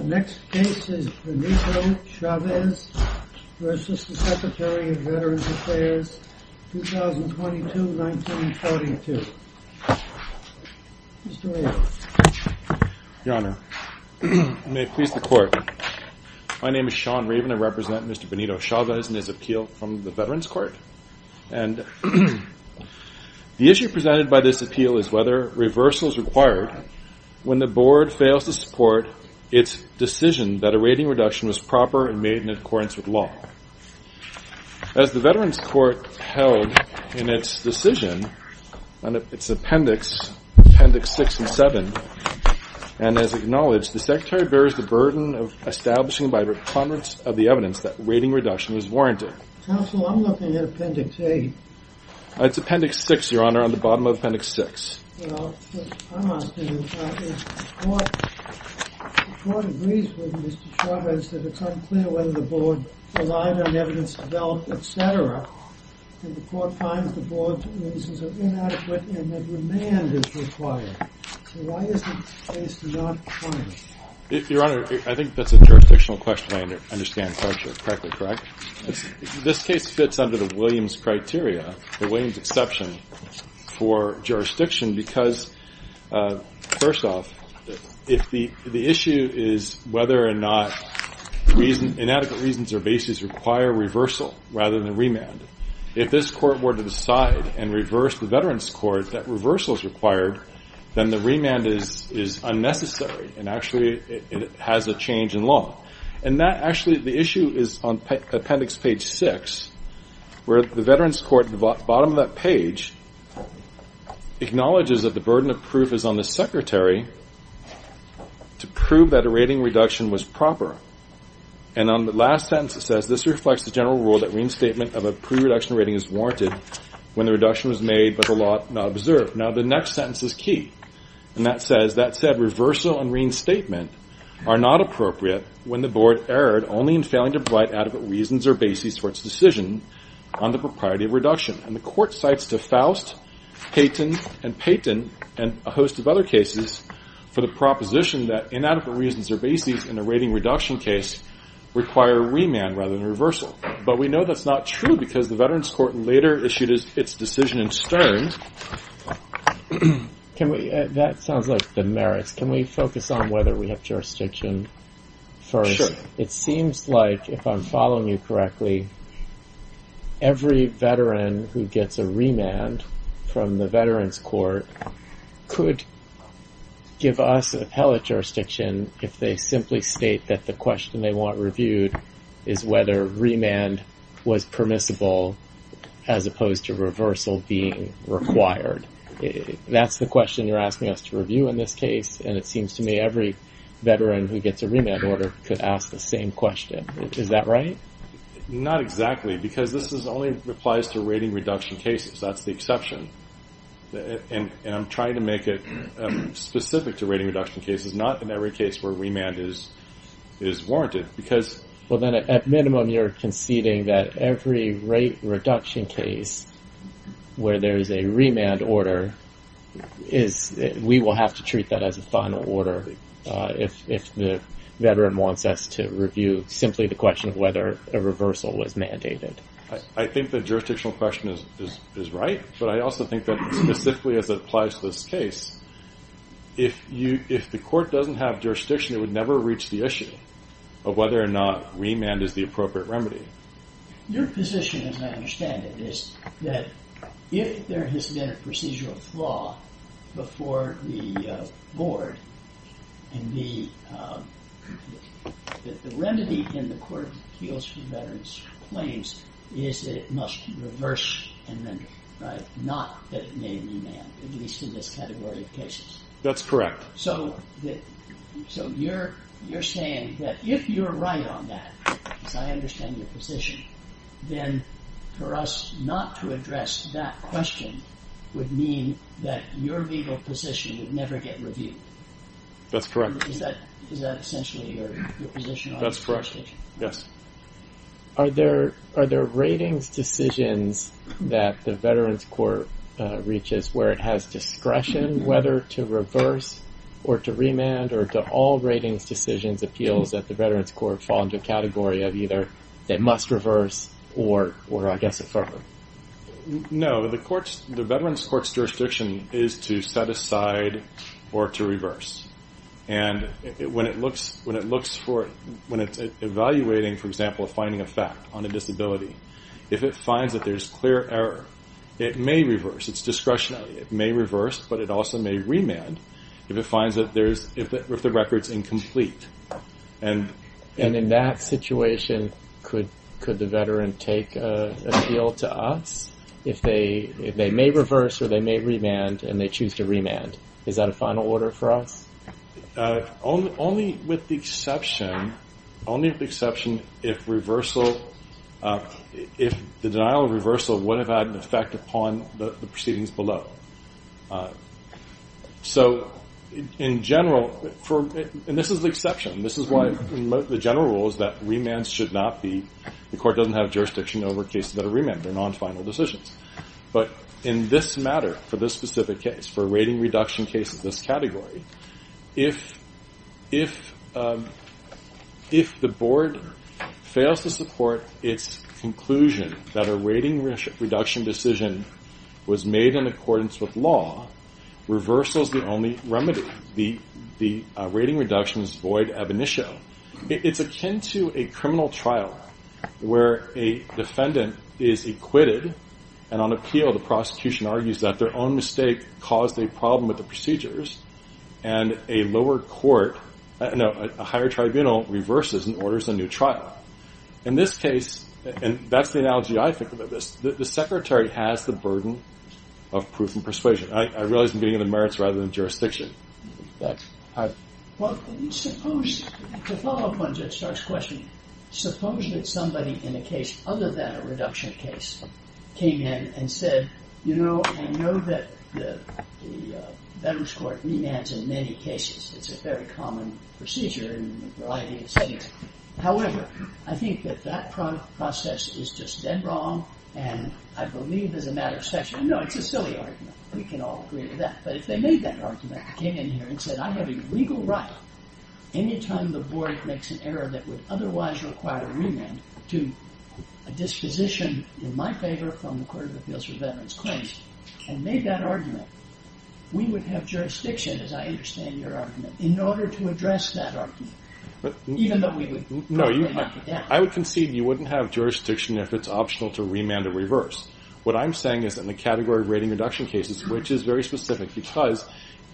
Next case is Benito Chavez v. Secretary of Veterans Affairs, 2022-1942. Mr. Raven. Your Honor. May it please the Court. My name is Sean Raven. I represent Mr. Benito Chavez in his appeal from the Veterans Court. And the issue presented by this appeal is whether reversal is required when the Board fails to support its decision that a rating reduction was proper and made in accordance with law. As the Veterans Court held in its decision, in its appendix, appendix 6 and 7, and as acknowledged, the Secretary bears the burden of establishing by the prominence of the evidence that rating reduction is warranted. Counsel, I'm looking at appendix 8. It's appendix 6, Your Honor, on the bottom of appendix 6. Well, I'm asking if the Court agrees with Mr. Chavez that it's unclear whether the Board relied on evidence developed, etc., and the Court finds the Board's reasons are inadequate and that remand is required. So why is the case not funded? Your Honor, I think that's a jurisdictional question I understand correctly, correct? This case fits under the Williams criteria, the Williams exception, for jurisdiction because, first off, if the issue is whether or not inadequate reasons or basis require reversal rather than remand, if this Court were to decide and reverse the Veterans Court that reversal is required, then the remand is unnecessary, and actually it has a change in law. And that, actually, the issue is on appendix page 6, where the Veterans Court, at the bottom of that page, acknowledges that the burden of proof is on the Secretary to prove that a rating reduction was proper. And on the last sentence, it says, this reflects the general rule that reinstatement of a pre-reduction rating is warranted when the reduction was made but the law not observed. Now, the next sentence is key, and that says, that said, reversal and reinstatement are not appropriate when the Board erred only in failing to provide adequate reasons or basis for its decision on the propriety of reduction. And the Court cites DeFaust, Payton, and Payton, and a host of other cases, for the proposition that inadequate reasons or basis in a rating reduction case require remand rather than reversal. But we know that's not true because the Veterans Court later issued its decision in Stern. That sounds like the merits. Can we focus on whether we have jurisdiction first? It seems like, if I'm following you correctly, every veteran who gets a remand from the Veterans Court could give us appellate jurisdiction if they simply state that the question they want reviewed is whether remand was permissible as opposed to reversal being required. That's the question you're asking us to review in this case, and it seems to me every veteran who gets a remand order could ask the same question. Is that right? Not exactly, because this only applies to rating reduction cases. That's the exception. And I'm trying to make it specific to rating reduction cases, not in every case where remand is warranted. Well, then, at minimum, you're conceding that every rate reduction case where there is a remand order, we will have to treat that as a final order if the veteran wants us to review simply the question of whether a reversal was mandated. I think the jurisdictional question is right. But I also think that specifically as it applies to this case, if the court doesn't have jurisdiction, it would never reach the issue of whether or not remand is the appropriate remedy. Your position, as I understand it, is that if there has been a procedural flaw before the board and the remedy in the court appeals for veterans' claims is that it must reverse amendment, right? Not that it may remand, at least in this category of cases. That's correct. So you're saying that if you're right on that, as I understand your position, then for us not to address that question would mean that your legal position would never get reviewed. That's correct. Is that essentially your position on this question? That's correct, yes. Are there ratings decisions that the veterans' court reaches where it has discretion whether to reverse or to remand? Or do all ratings decisions appeals at the veterans' court fall into a category of either they must reverse or I guess affirm? No. The veterans' court's jurisdiction is to set aside or to reverse. And when it's evaluating, for example, finding a fact on a disability, if it finds that there's clear error, it may reverse. It's discretionary. It may reverse, but it also may remand if it finds that the record's incomplete. And in that situation, could the veteran take appeal to us if they may reverse or they may remand and they choose to remand? Is that a final order for us? Only with the exception if the denial of reversal would have had an effect upon the proceedings below. So in general, and this is the exception, this is why the general rule is that remands should not be, the court doesn't have jurisdiction over cases that are remanded. They're non-final decisions. But in this matter, for this specific case, for a rating reduction case of this category, if the board fails to support its conclusion that a rating reduction decision was made in accordance with law, reversal is the only remedy. The rating reduction is void ab initio. It's akin to a criminal trial where a defendant is acquitted, and on appeal the prosecution argues that their own mistake caused a problem with the procedures, and a lower court, no, a higher tribunal reverses and orders a new trial. In this case, and that's the analogy I think about this, the secretary has the burden of proof and persuasion. I realize I'm getting into merits rather than jurisdiction. Well, suppose, to follow up on Judge Starr's question, suppose that somebody in a case other than a reduction case came in and said, you know, I know that the Veterans Court remands in many cases. It's a very common procedure in a variety of settings. However, I think that that process is just dead wrong, and I believe as a matter of fact, you know, it's a silly argument. We can all agree to that. But if they made that argument, came in here and said, I have a legal right, any time the board makes an error that would otherwise require a remand to a disposition in my favor from the Court of Appeals for Veterans Claims, and made that argument, we would have jurisdiction, as I understand your argument, in order to address that argument, even though we would probably knock it down. I would concede you wouldn't have jurisdiction if it's optional to remand or reverse. What I'm saying is in the category of rating reduction cases, which is very specific, because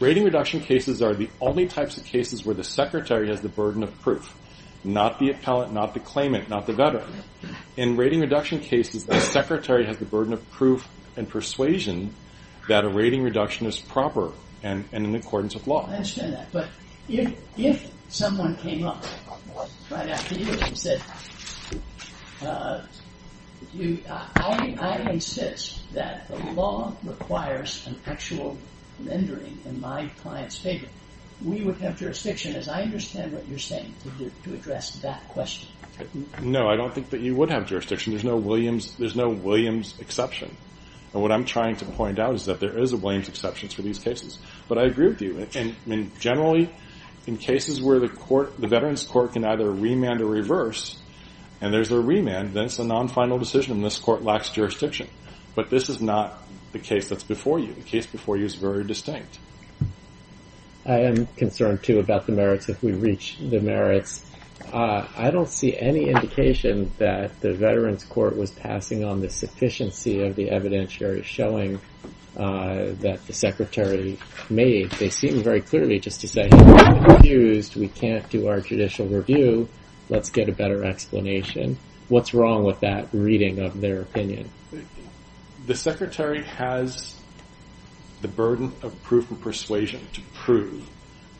rating reduction cases are the only types of cases where the secretary has the burden of proof, not the appellate, not the claimant, not the veteran. In rating reduction cases, the secretary has the burden of proof and persuasion that a rating reduction is proper and in accordance with law. I understand that. But if someone came up right after you and said, I insist that the law requires an actual rendering in my client's favor, we would have jurisdiction, as I understand what you're saying, to address that question. No, I don't think that you would have jurisdiction. There's no Williams exception. And what I'm trying to point out is that there is a Williams exception for these cases. But I agree with you. And generally, in cases where the veterans court can either remand or reverse, and there's a remand, then it's a non-final decision. And this court lacks jurisdiction. But this is not the case that's before you. The case before you is very distinct. I am concerned, too, about the merits, if we reach the merits. I don't see any indication that the veterans court was passing on the sufficiency of the evidentiary showing that the secretary made. They seem very clearly just to say, we're confused. We can't do our judicial review. Let's get a better explanation. What's wrong with that reading of their opinion? The secretary has the burden of proof of persuasion to prove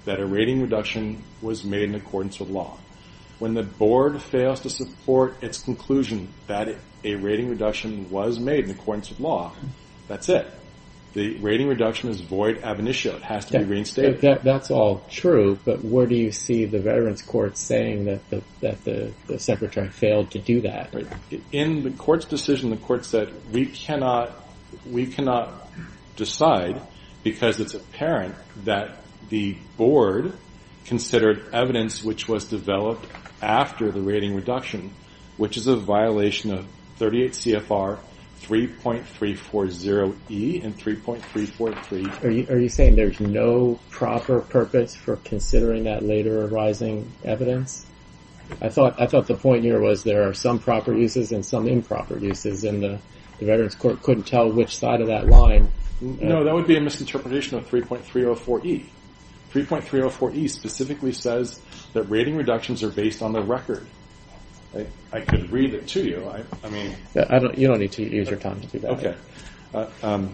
that a rating reduction was made in accordance with law. When the board fails to support its conclusion that a rating reduction was made in accordance with law, that's it. The rating reduction is void ab initio. It has to be reinstated. That's all true. But where do you see the veterans court saying that the secretary failed to do that? In the court's decision, the court said, we cannot decide because it's apparent that the board considered evidence which was developed after the rating reduction, which is a violation of 38 CFR 3.340E and 3.343. Are you saying there's no proper purpose for considering that later arising evidence? I thought the point here was there are some proper uses and some improper uses. And the veterans court couldn't tell which side of that line. No, that would be a misinterpretation of 3.304E. 3.304E specifically says that rating reductions are based on the record. I could read it to you. You don't need to use your time to do that. OK.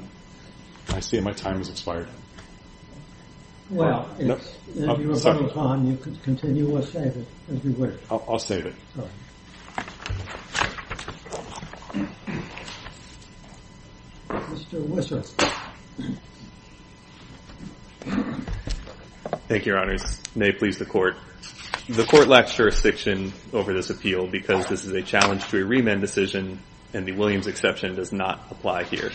I see my time has expired. Well, if your time is on, you can continue or save it, as we wish. I'll save it. Mr. Whistler. Thank you, Your Honors. May it please the court. The court lacks jurisdiction over this appeal because this is a challenge to a remand decision, and the Williams exception does not apply here.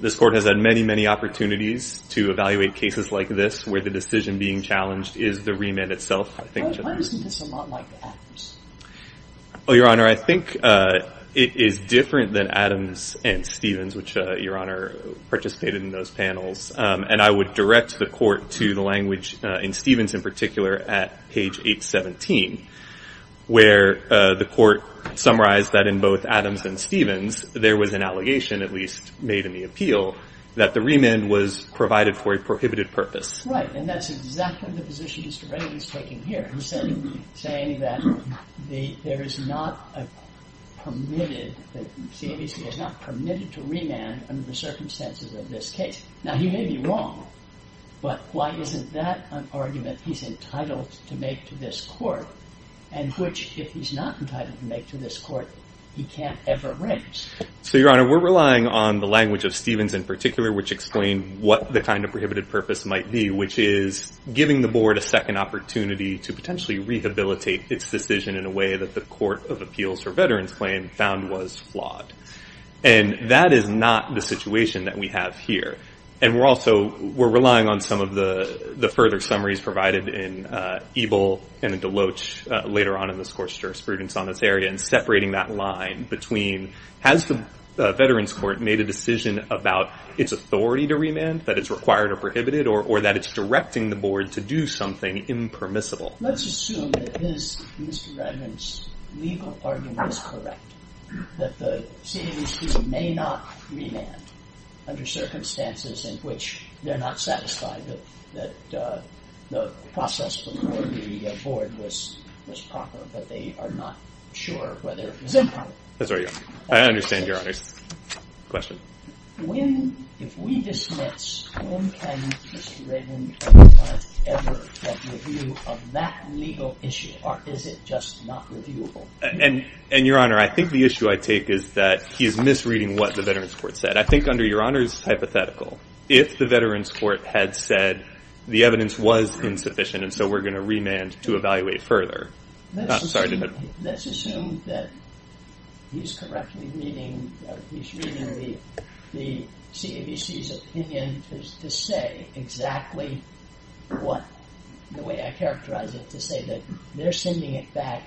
This court has had many, many opportunities to evaluate cases like this, where the decision being challenged is the remand itself, I think. Why isn't this a lot like Adams? Well, Your Honor, I think it is different than Adams and Stevens, which Your Honor participated in those panels. And I would direct the court to the language in Stevens in particular at page 817, where the court summarized that in both Adams and Stevens, there was an allegation, at least made in the appeal, that the remand was provided for a prohibited purpose. Right. And that's exactly the position Mr. Reilly is taking here. He's saying that there is not a permitted, that CBC is not permitted to remand under the circumstances of this case. Now, he may be wrong, but why isn't that an argument he's entitled to make to this court, and which, if he's not entitled to make to this court, he can't ever arrange? So, Your Honor, we're relying on the language of Stevens in particular, which explained what the kind of prohibited purpose might be, which is giving the board a second opportunity to potentially rehabilitate its decision in a way that the Court of Appeals for Veterans Claim found was flawed. And that is not the situation that we have here. And we're also relying on some of the further summaries provided in Ebel and Deloach later on in this court's jurisprudence on this area, and separating that line between, has the Veterans Court made a decision about its authority to remand, that it's required or prohibited, or that it's directing the board to do something impermissible? Let's assume that Mr. Redmond's legal argument is correct, that the CBC may not remand under circumstances in which they're not satisfied that the process before the board was proper, but they are not sure whether it was improper. That's right, Your Honor. I understand, Your Honor. Question. If we dismiss, when can Mr. Redmond ever get review of that legal issue, or is it just not reviewable? And, Your Honor, I think the issue I take is that he is misreading what the Veterans Court said. I think under Your Honor's hypothetical, if the Veterans Court had said the evidence was insufficient, and so we're going to remand to evaluate further. Let's assume that he's correctly reading the CABC's opinion to say exactly what, the way I characterize it, to say that they're sending it back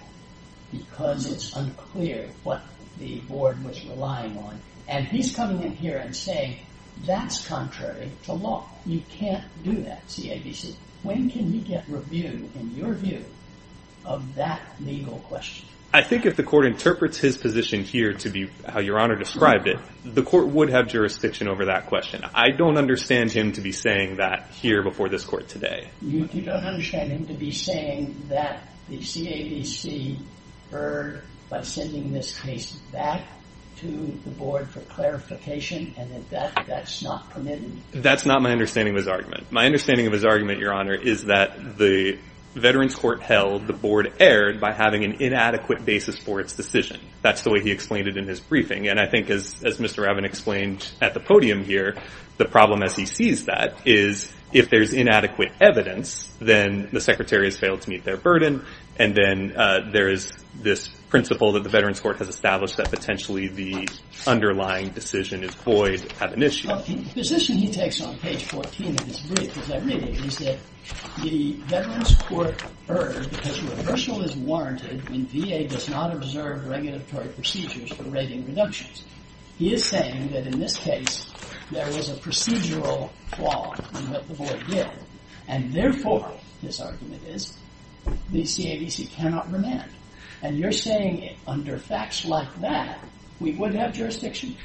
because it's unclear what the board was relying on. And he's coming in here and saying that's contrary to law. You can't do that, CABC. When can he get review, in your view, of that legal question? I think if the court interprets his position here to be how Your Honor described it, the court would have jurisdiction over that question. I don't understand him to be saying that here before this court today. You don't understand him to be saying that the CABC heard by sending this case back to the board for clarification, and that that's not permitted? That's not my understanding of his argument. My understanding of his argument, Your Honor, is that the Veterans Court held the board erred by having an inadequate basis for its decision. That's the way he explained it in his briefing. And I think, as Mr. Ravin explained at the podium here, the problem as he sees that is if there's inadequate evidence, then the Secretary has failed to meet their burden, and then there is this principle that the Veterans Court has established that potentially the underlying decision is void, have an issue. Well, the position he takes on page 14 of his brief, as I read it, is that the Veterans Court erred because reversal is warranted when VA does not observe regulatory procedures for rating reductions. He is saying that in this case there was a procedural flaw in what the board did, and therefore, his argument is, the CABC cannot remand. And you're saying under facts like that, we wouldn't have jurisdiction?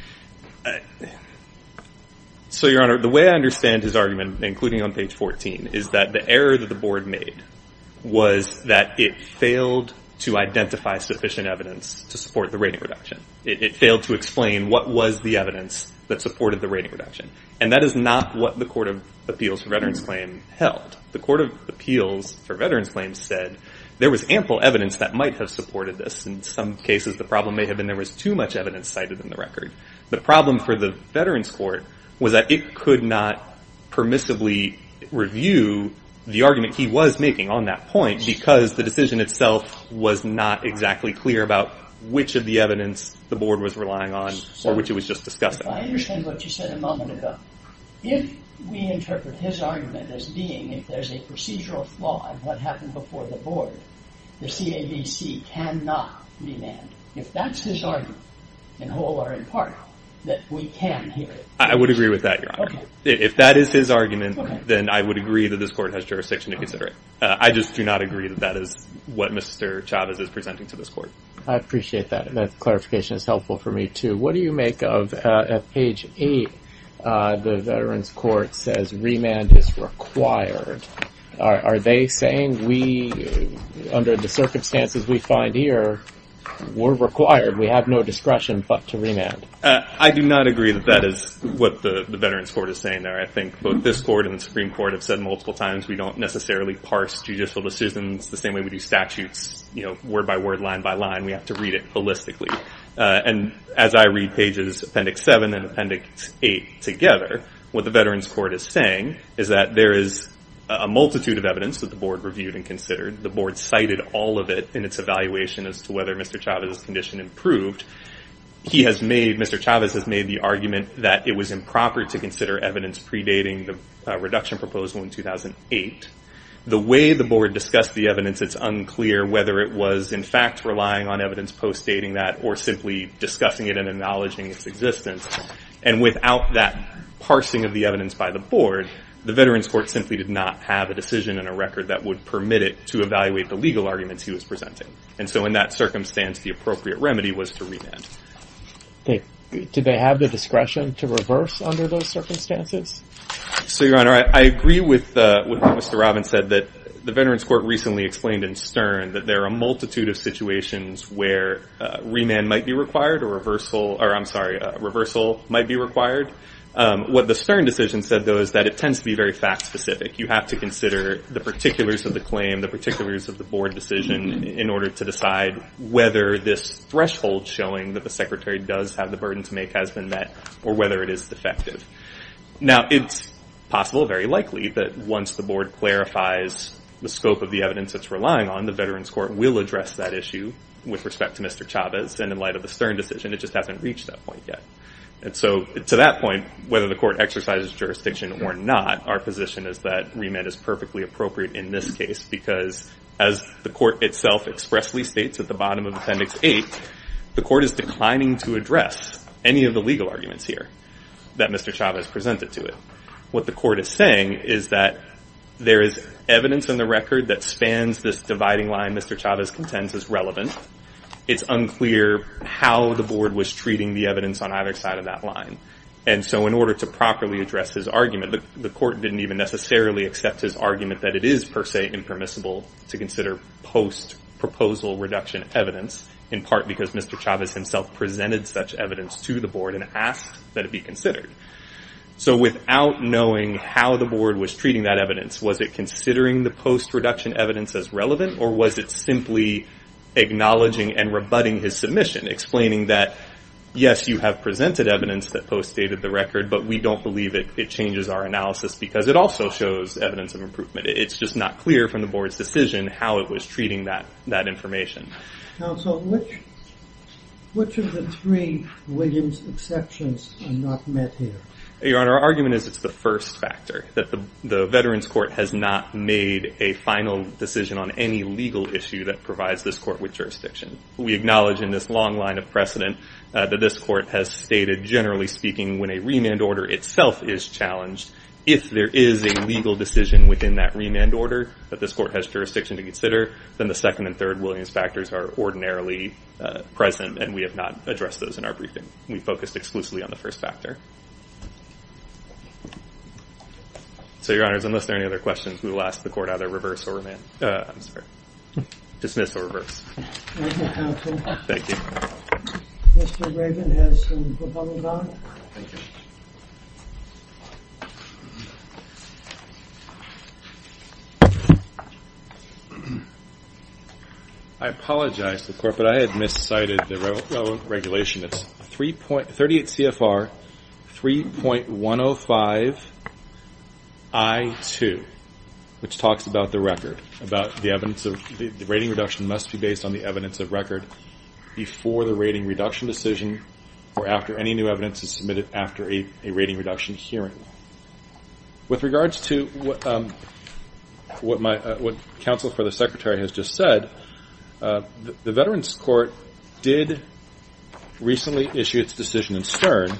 So, Your Honor, the way I understand his argument, including on page 14, is that the error that the board made was that it failed to identify sufficient evidence to support the rating reduction. It failed to explain what was the evidence that supported the rating reduction, and that is not what the Court of Appeals for Veterans Claim held. The Court of Appeals for Veterans Claims said there was ample evidence that might have supported this. In some cases, the problem may have been there was too much evidence cited in the record. The problem for the Veterans Court was that it could not permissibly review the argument he was making on that point because the decision itself was not exactly clear about which of the evidence the board was relying on or which it was just discussing. If I understand what you said a moment ago, if we interpret his argument as being if there's a procedural flaw in what happened before the board, the CABC cannot remand. If that's his argument, in whole or in part, that we can hear it. I would agree with that, Your Honor. If that is his argument, then I would agree that this court has jurisdiction to consider it. I just do not agree that that is what Mr. Chavez is presenting to this court. I appreciate that. That clarification is helpful for me, too. What do you make of, at page 8, the Veterans Court says remand is required. Are they saying we, under the circumstances we find here, we're required. We have no discretion but to remand. I do not agree that that is what the Veterans Court is saying there. I think both this court and the Supreme Court have said multiple times we don't necessarily parse judicial decisions the same way we do statutes, word by word, line by line. We have to read it holistically. As I read pages Appendix 7 and Appendix 8 together, what the Veterans Court is saying is that there is a multitude of evidence that the board reviewed and considered. The board cited all of it in its evaluation as to whether Mr. Chavez's condition improved. Mr. Chavez has made the argument that it was improper to consider evidence predating the reduction proposal in 2008. The way the board discussed the evidence, it's unclear whether it was, in fact, relying on evidence post-dating that or simply discussing it and acknowledging its existence. Without that parsing of the evidence by the board, the Veterans Court simply did not have a decision in a record that would permit it to evaluate the legal arguments he was presenting. In that circumstance, the appropriate remedy was to remand. Did they have the discretion to reverse under those circumstances? Your Honor, I agree with what Mr. Robbins said. The Veterans Court recently explained in Stern that there are a multitude of situations where remand might be required or reversal might be required. What the Stern decision said, though, is that it tends to be very fact-specific. You have to consider the particulars of the claim, the particulars of the board decision, in order to decide whether this threshold showing that the Secretary does have the burden to make has been met or whether it is defective. Now, it's possible, very likely, that once the board clarifies the scope of the evidence it's relying on, the Veterans Court will address that issue with respect to Mr. Chavez. And in light of the Stern decision, it just hasn't reached that point yet. And so to that point, whether the court exercises jurisdiction or not, our position is that remand is perfectly appropriate in this case because, as the court itself expressly states at the bottom of Appendix 8, the court is declining to address any of the legal arguments here that Mr. Chavez presented to it. What the court is saying is that there is evidence in the record that spans this dividing line Mr. Chavez contends is relevant. It's unclear how the board was treating the evidence on either side of that line. And so in order to properly address his argument, the court didn't even necessarily accept his argument that it is, per se, impermissible to consider post-proposal reduction evidence, in part because Mr. Chavez himself presented such evidence to the board and asked that it be considered. So without knowing how the board was treating that evidence, was it considering the post-reduction evidence as relevant, or was it simply acknowledging and rebutting his submission, explaining that, yes, you have presented evidence that post-stated the record, but we don't believe it changes our analysis because it also shows evidence of improvement. It's just not clear from the board's decision how it was treating that information. Counsel, which of the three Williams exceptions are not met here? Your Honor, our argument is it's the first factor, that the Veterans Court has not made a final decision on any legal issue that provides this court with jurisdiction. We acknowledge in this long line of precedent that this court has stated, generally speaking, when a remand order itself is challenged, if there is a legal decision within that remand order that this court has jurisdiction to consider, then the second and third Williams factors are ordinarily present, and we have not addressed those in our briefing. We focused exclusively on the first factor. So, Your Honors, unless there are any other questions, we will ask the court either reverse or remand. I'm sorry, dismiss or reverse. Thank you. Mr. Rabin has some proposals on it. Thank you. I apologize to the court, but I had miscited the regulation. It's 38 CFR 3.105 I-2, which talks about the record, the rating reduction must be based on the evidence of record before the rating reduction decision or after any new evidence is submitted after a rating reduction hearing. With regards to what counsel for the Secretary has just said, the Veterans Court did recently issue its decision in Stern,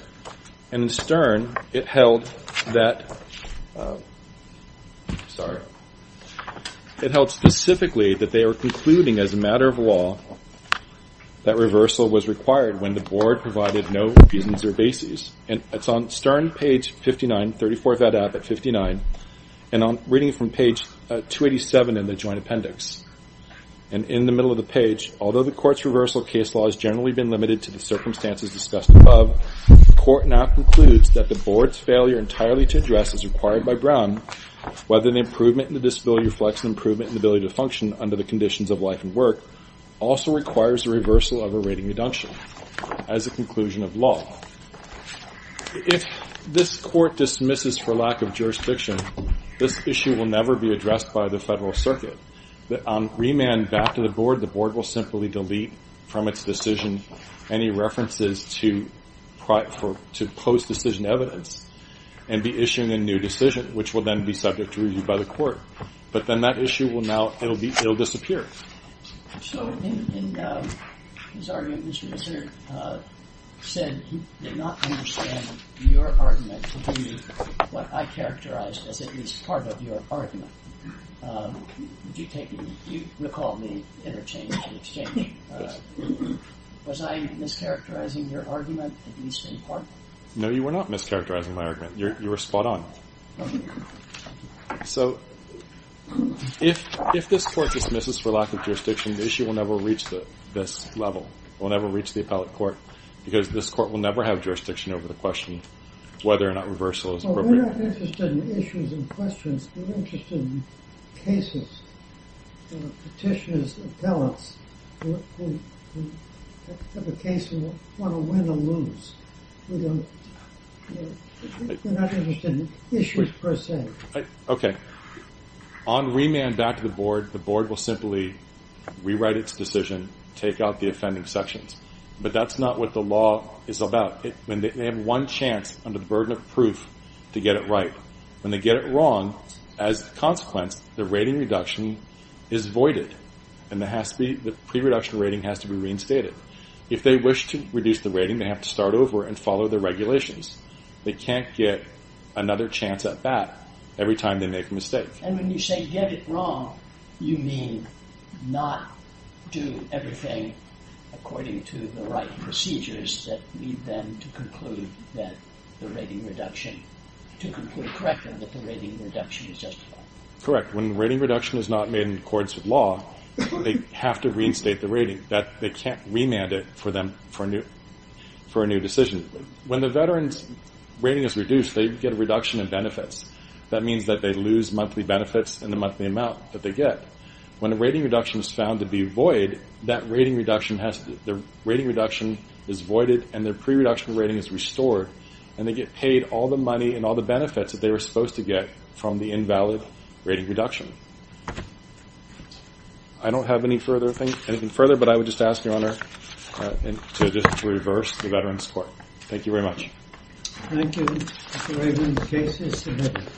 and in Stern it held specifically that they are concluding as a matter of law that reversal was required when the board provided no reasons or bases. And it's on Stern, page 59, 34 of that app at 59, and I'm reading from page 287 in the joint appendix. Although the court's reversal case law has generally been limited to the circumstances discussed above, the court now concludes that the board's failure entirely to address as required by Brown, whether an improvement in the disability reflects an improvement in the ability to function under the conditions of life and work, also requires a reversal of a rating reduction as a conclusion of law. If this court dismisses for lack of jurisdiction, this issue will never be addressed by the Federal Circuit. On remand back to the board, the board will simply delete from its decision any references to post-decision evidence and be issuing a new decision, which will then be subject to review by the court. But then that issue will now, it will disappear. So in his argument, he said he did not understand your argument to be what I characterized as at least part of your argument. Do you recall me interchanging? Was I mischaracterizing your argument at least in part? No, you were not mischaracterizing my argument. You were spot on. So if this court dismisses for lack of jurisdiction, the issue will never reach this level. It will never reach the appellate court because this court will never have jurisdiction over the question whether or not reversal is appropriate. We're not interested in issues and questions. We're interested in cases, petitioners, appellants who have a case and want to win or lose. We're not interested in issues per se. Okay. On remand back to the board, the board will simply rewrite its decision, take out the offending sections. But that's not what the law is about. They have one chance under the burden of proof to get it right. When they get it wrong, as a consequence, the rating reduction is voided. And the pre-reduction rating has to be reinstated. If they wish to reduce the rating, they have to start over and follow the regulations. They can't get another chance at that every time they make a mistake. And when you say get it wrong, you mean not do everything according to the right procedures that lead them to conclude that the rating reduction is justified. Correct. When rating reduction is not made in accordance with law, they have to reinstate the rating. They can't remand it for a new decision. When the veteran's rating is reduced, they get a reduction in benefits. That means that they lose monthly benefits in the monthly amount that they get. When a rating reduction is found to be void, that rating reduction is voided and their pre-reduction rating is restored. And they get paid all the money and all the benefits that they were supposed to get from the invalid rating reduction. I don't have anything further, but I would just ask, Your Honor, to just reverse the veterans' court. Thank you very much. Thank you, Mr. Raven. The case is submitted.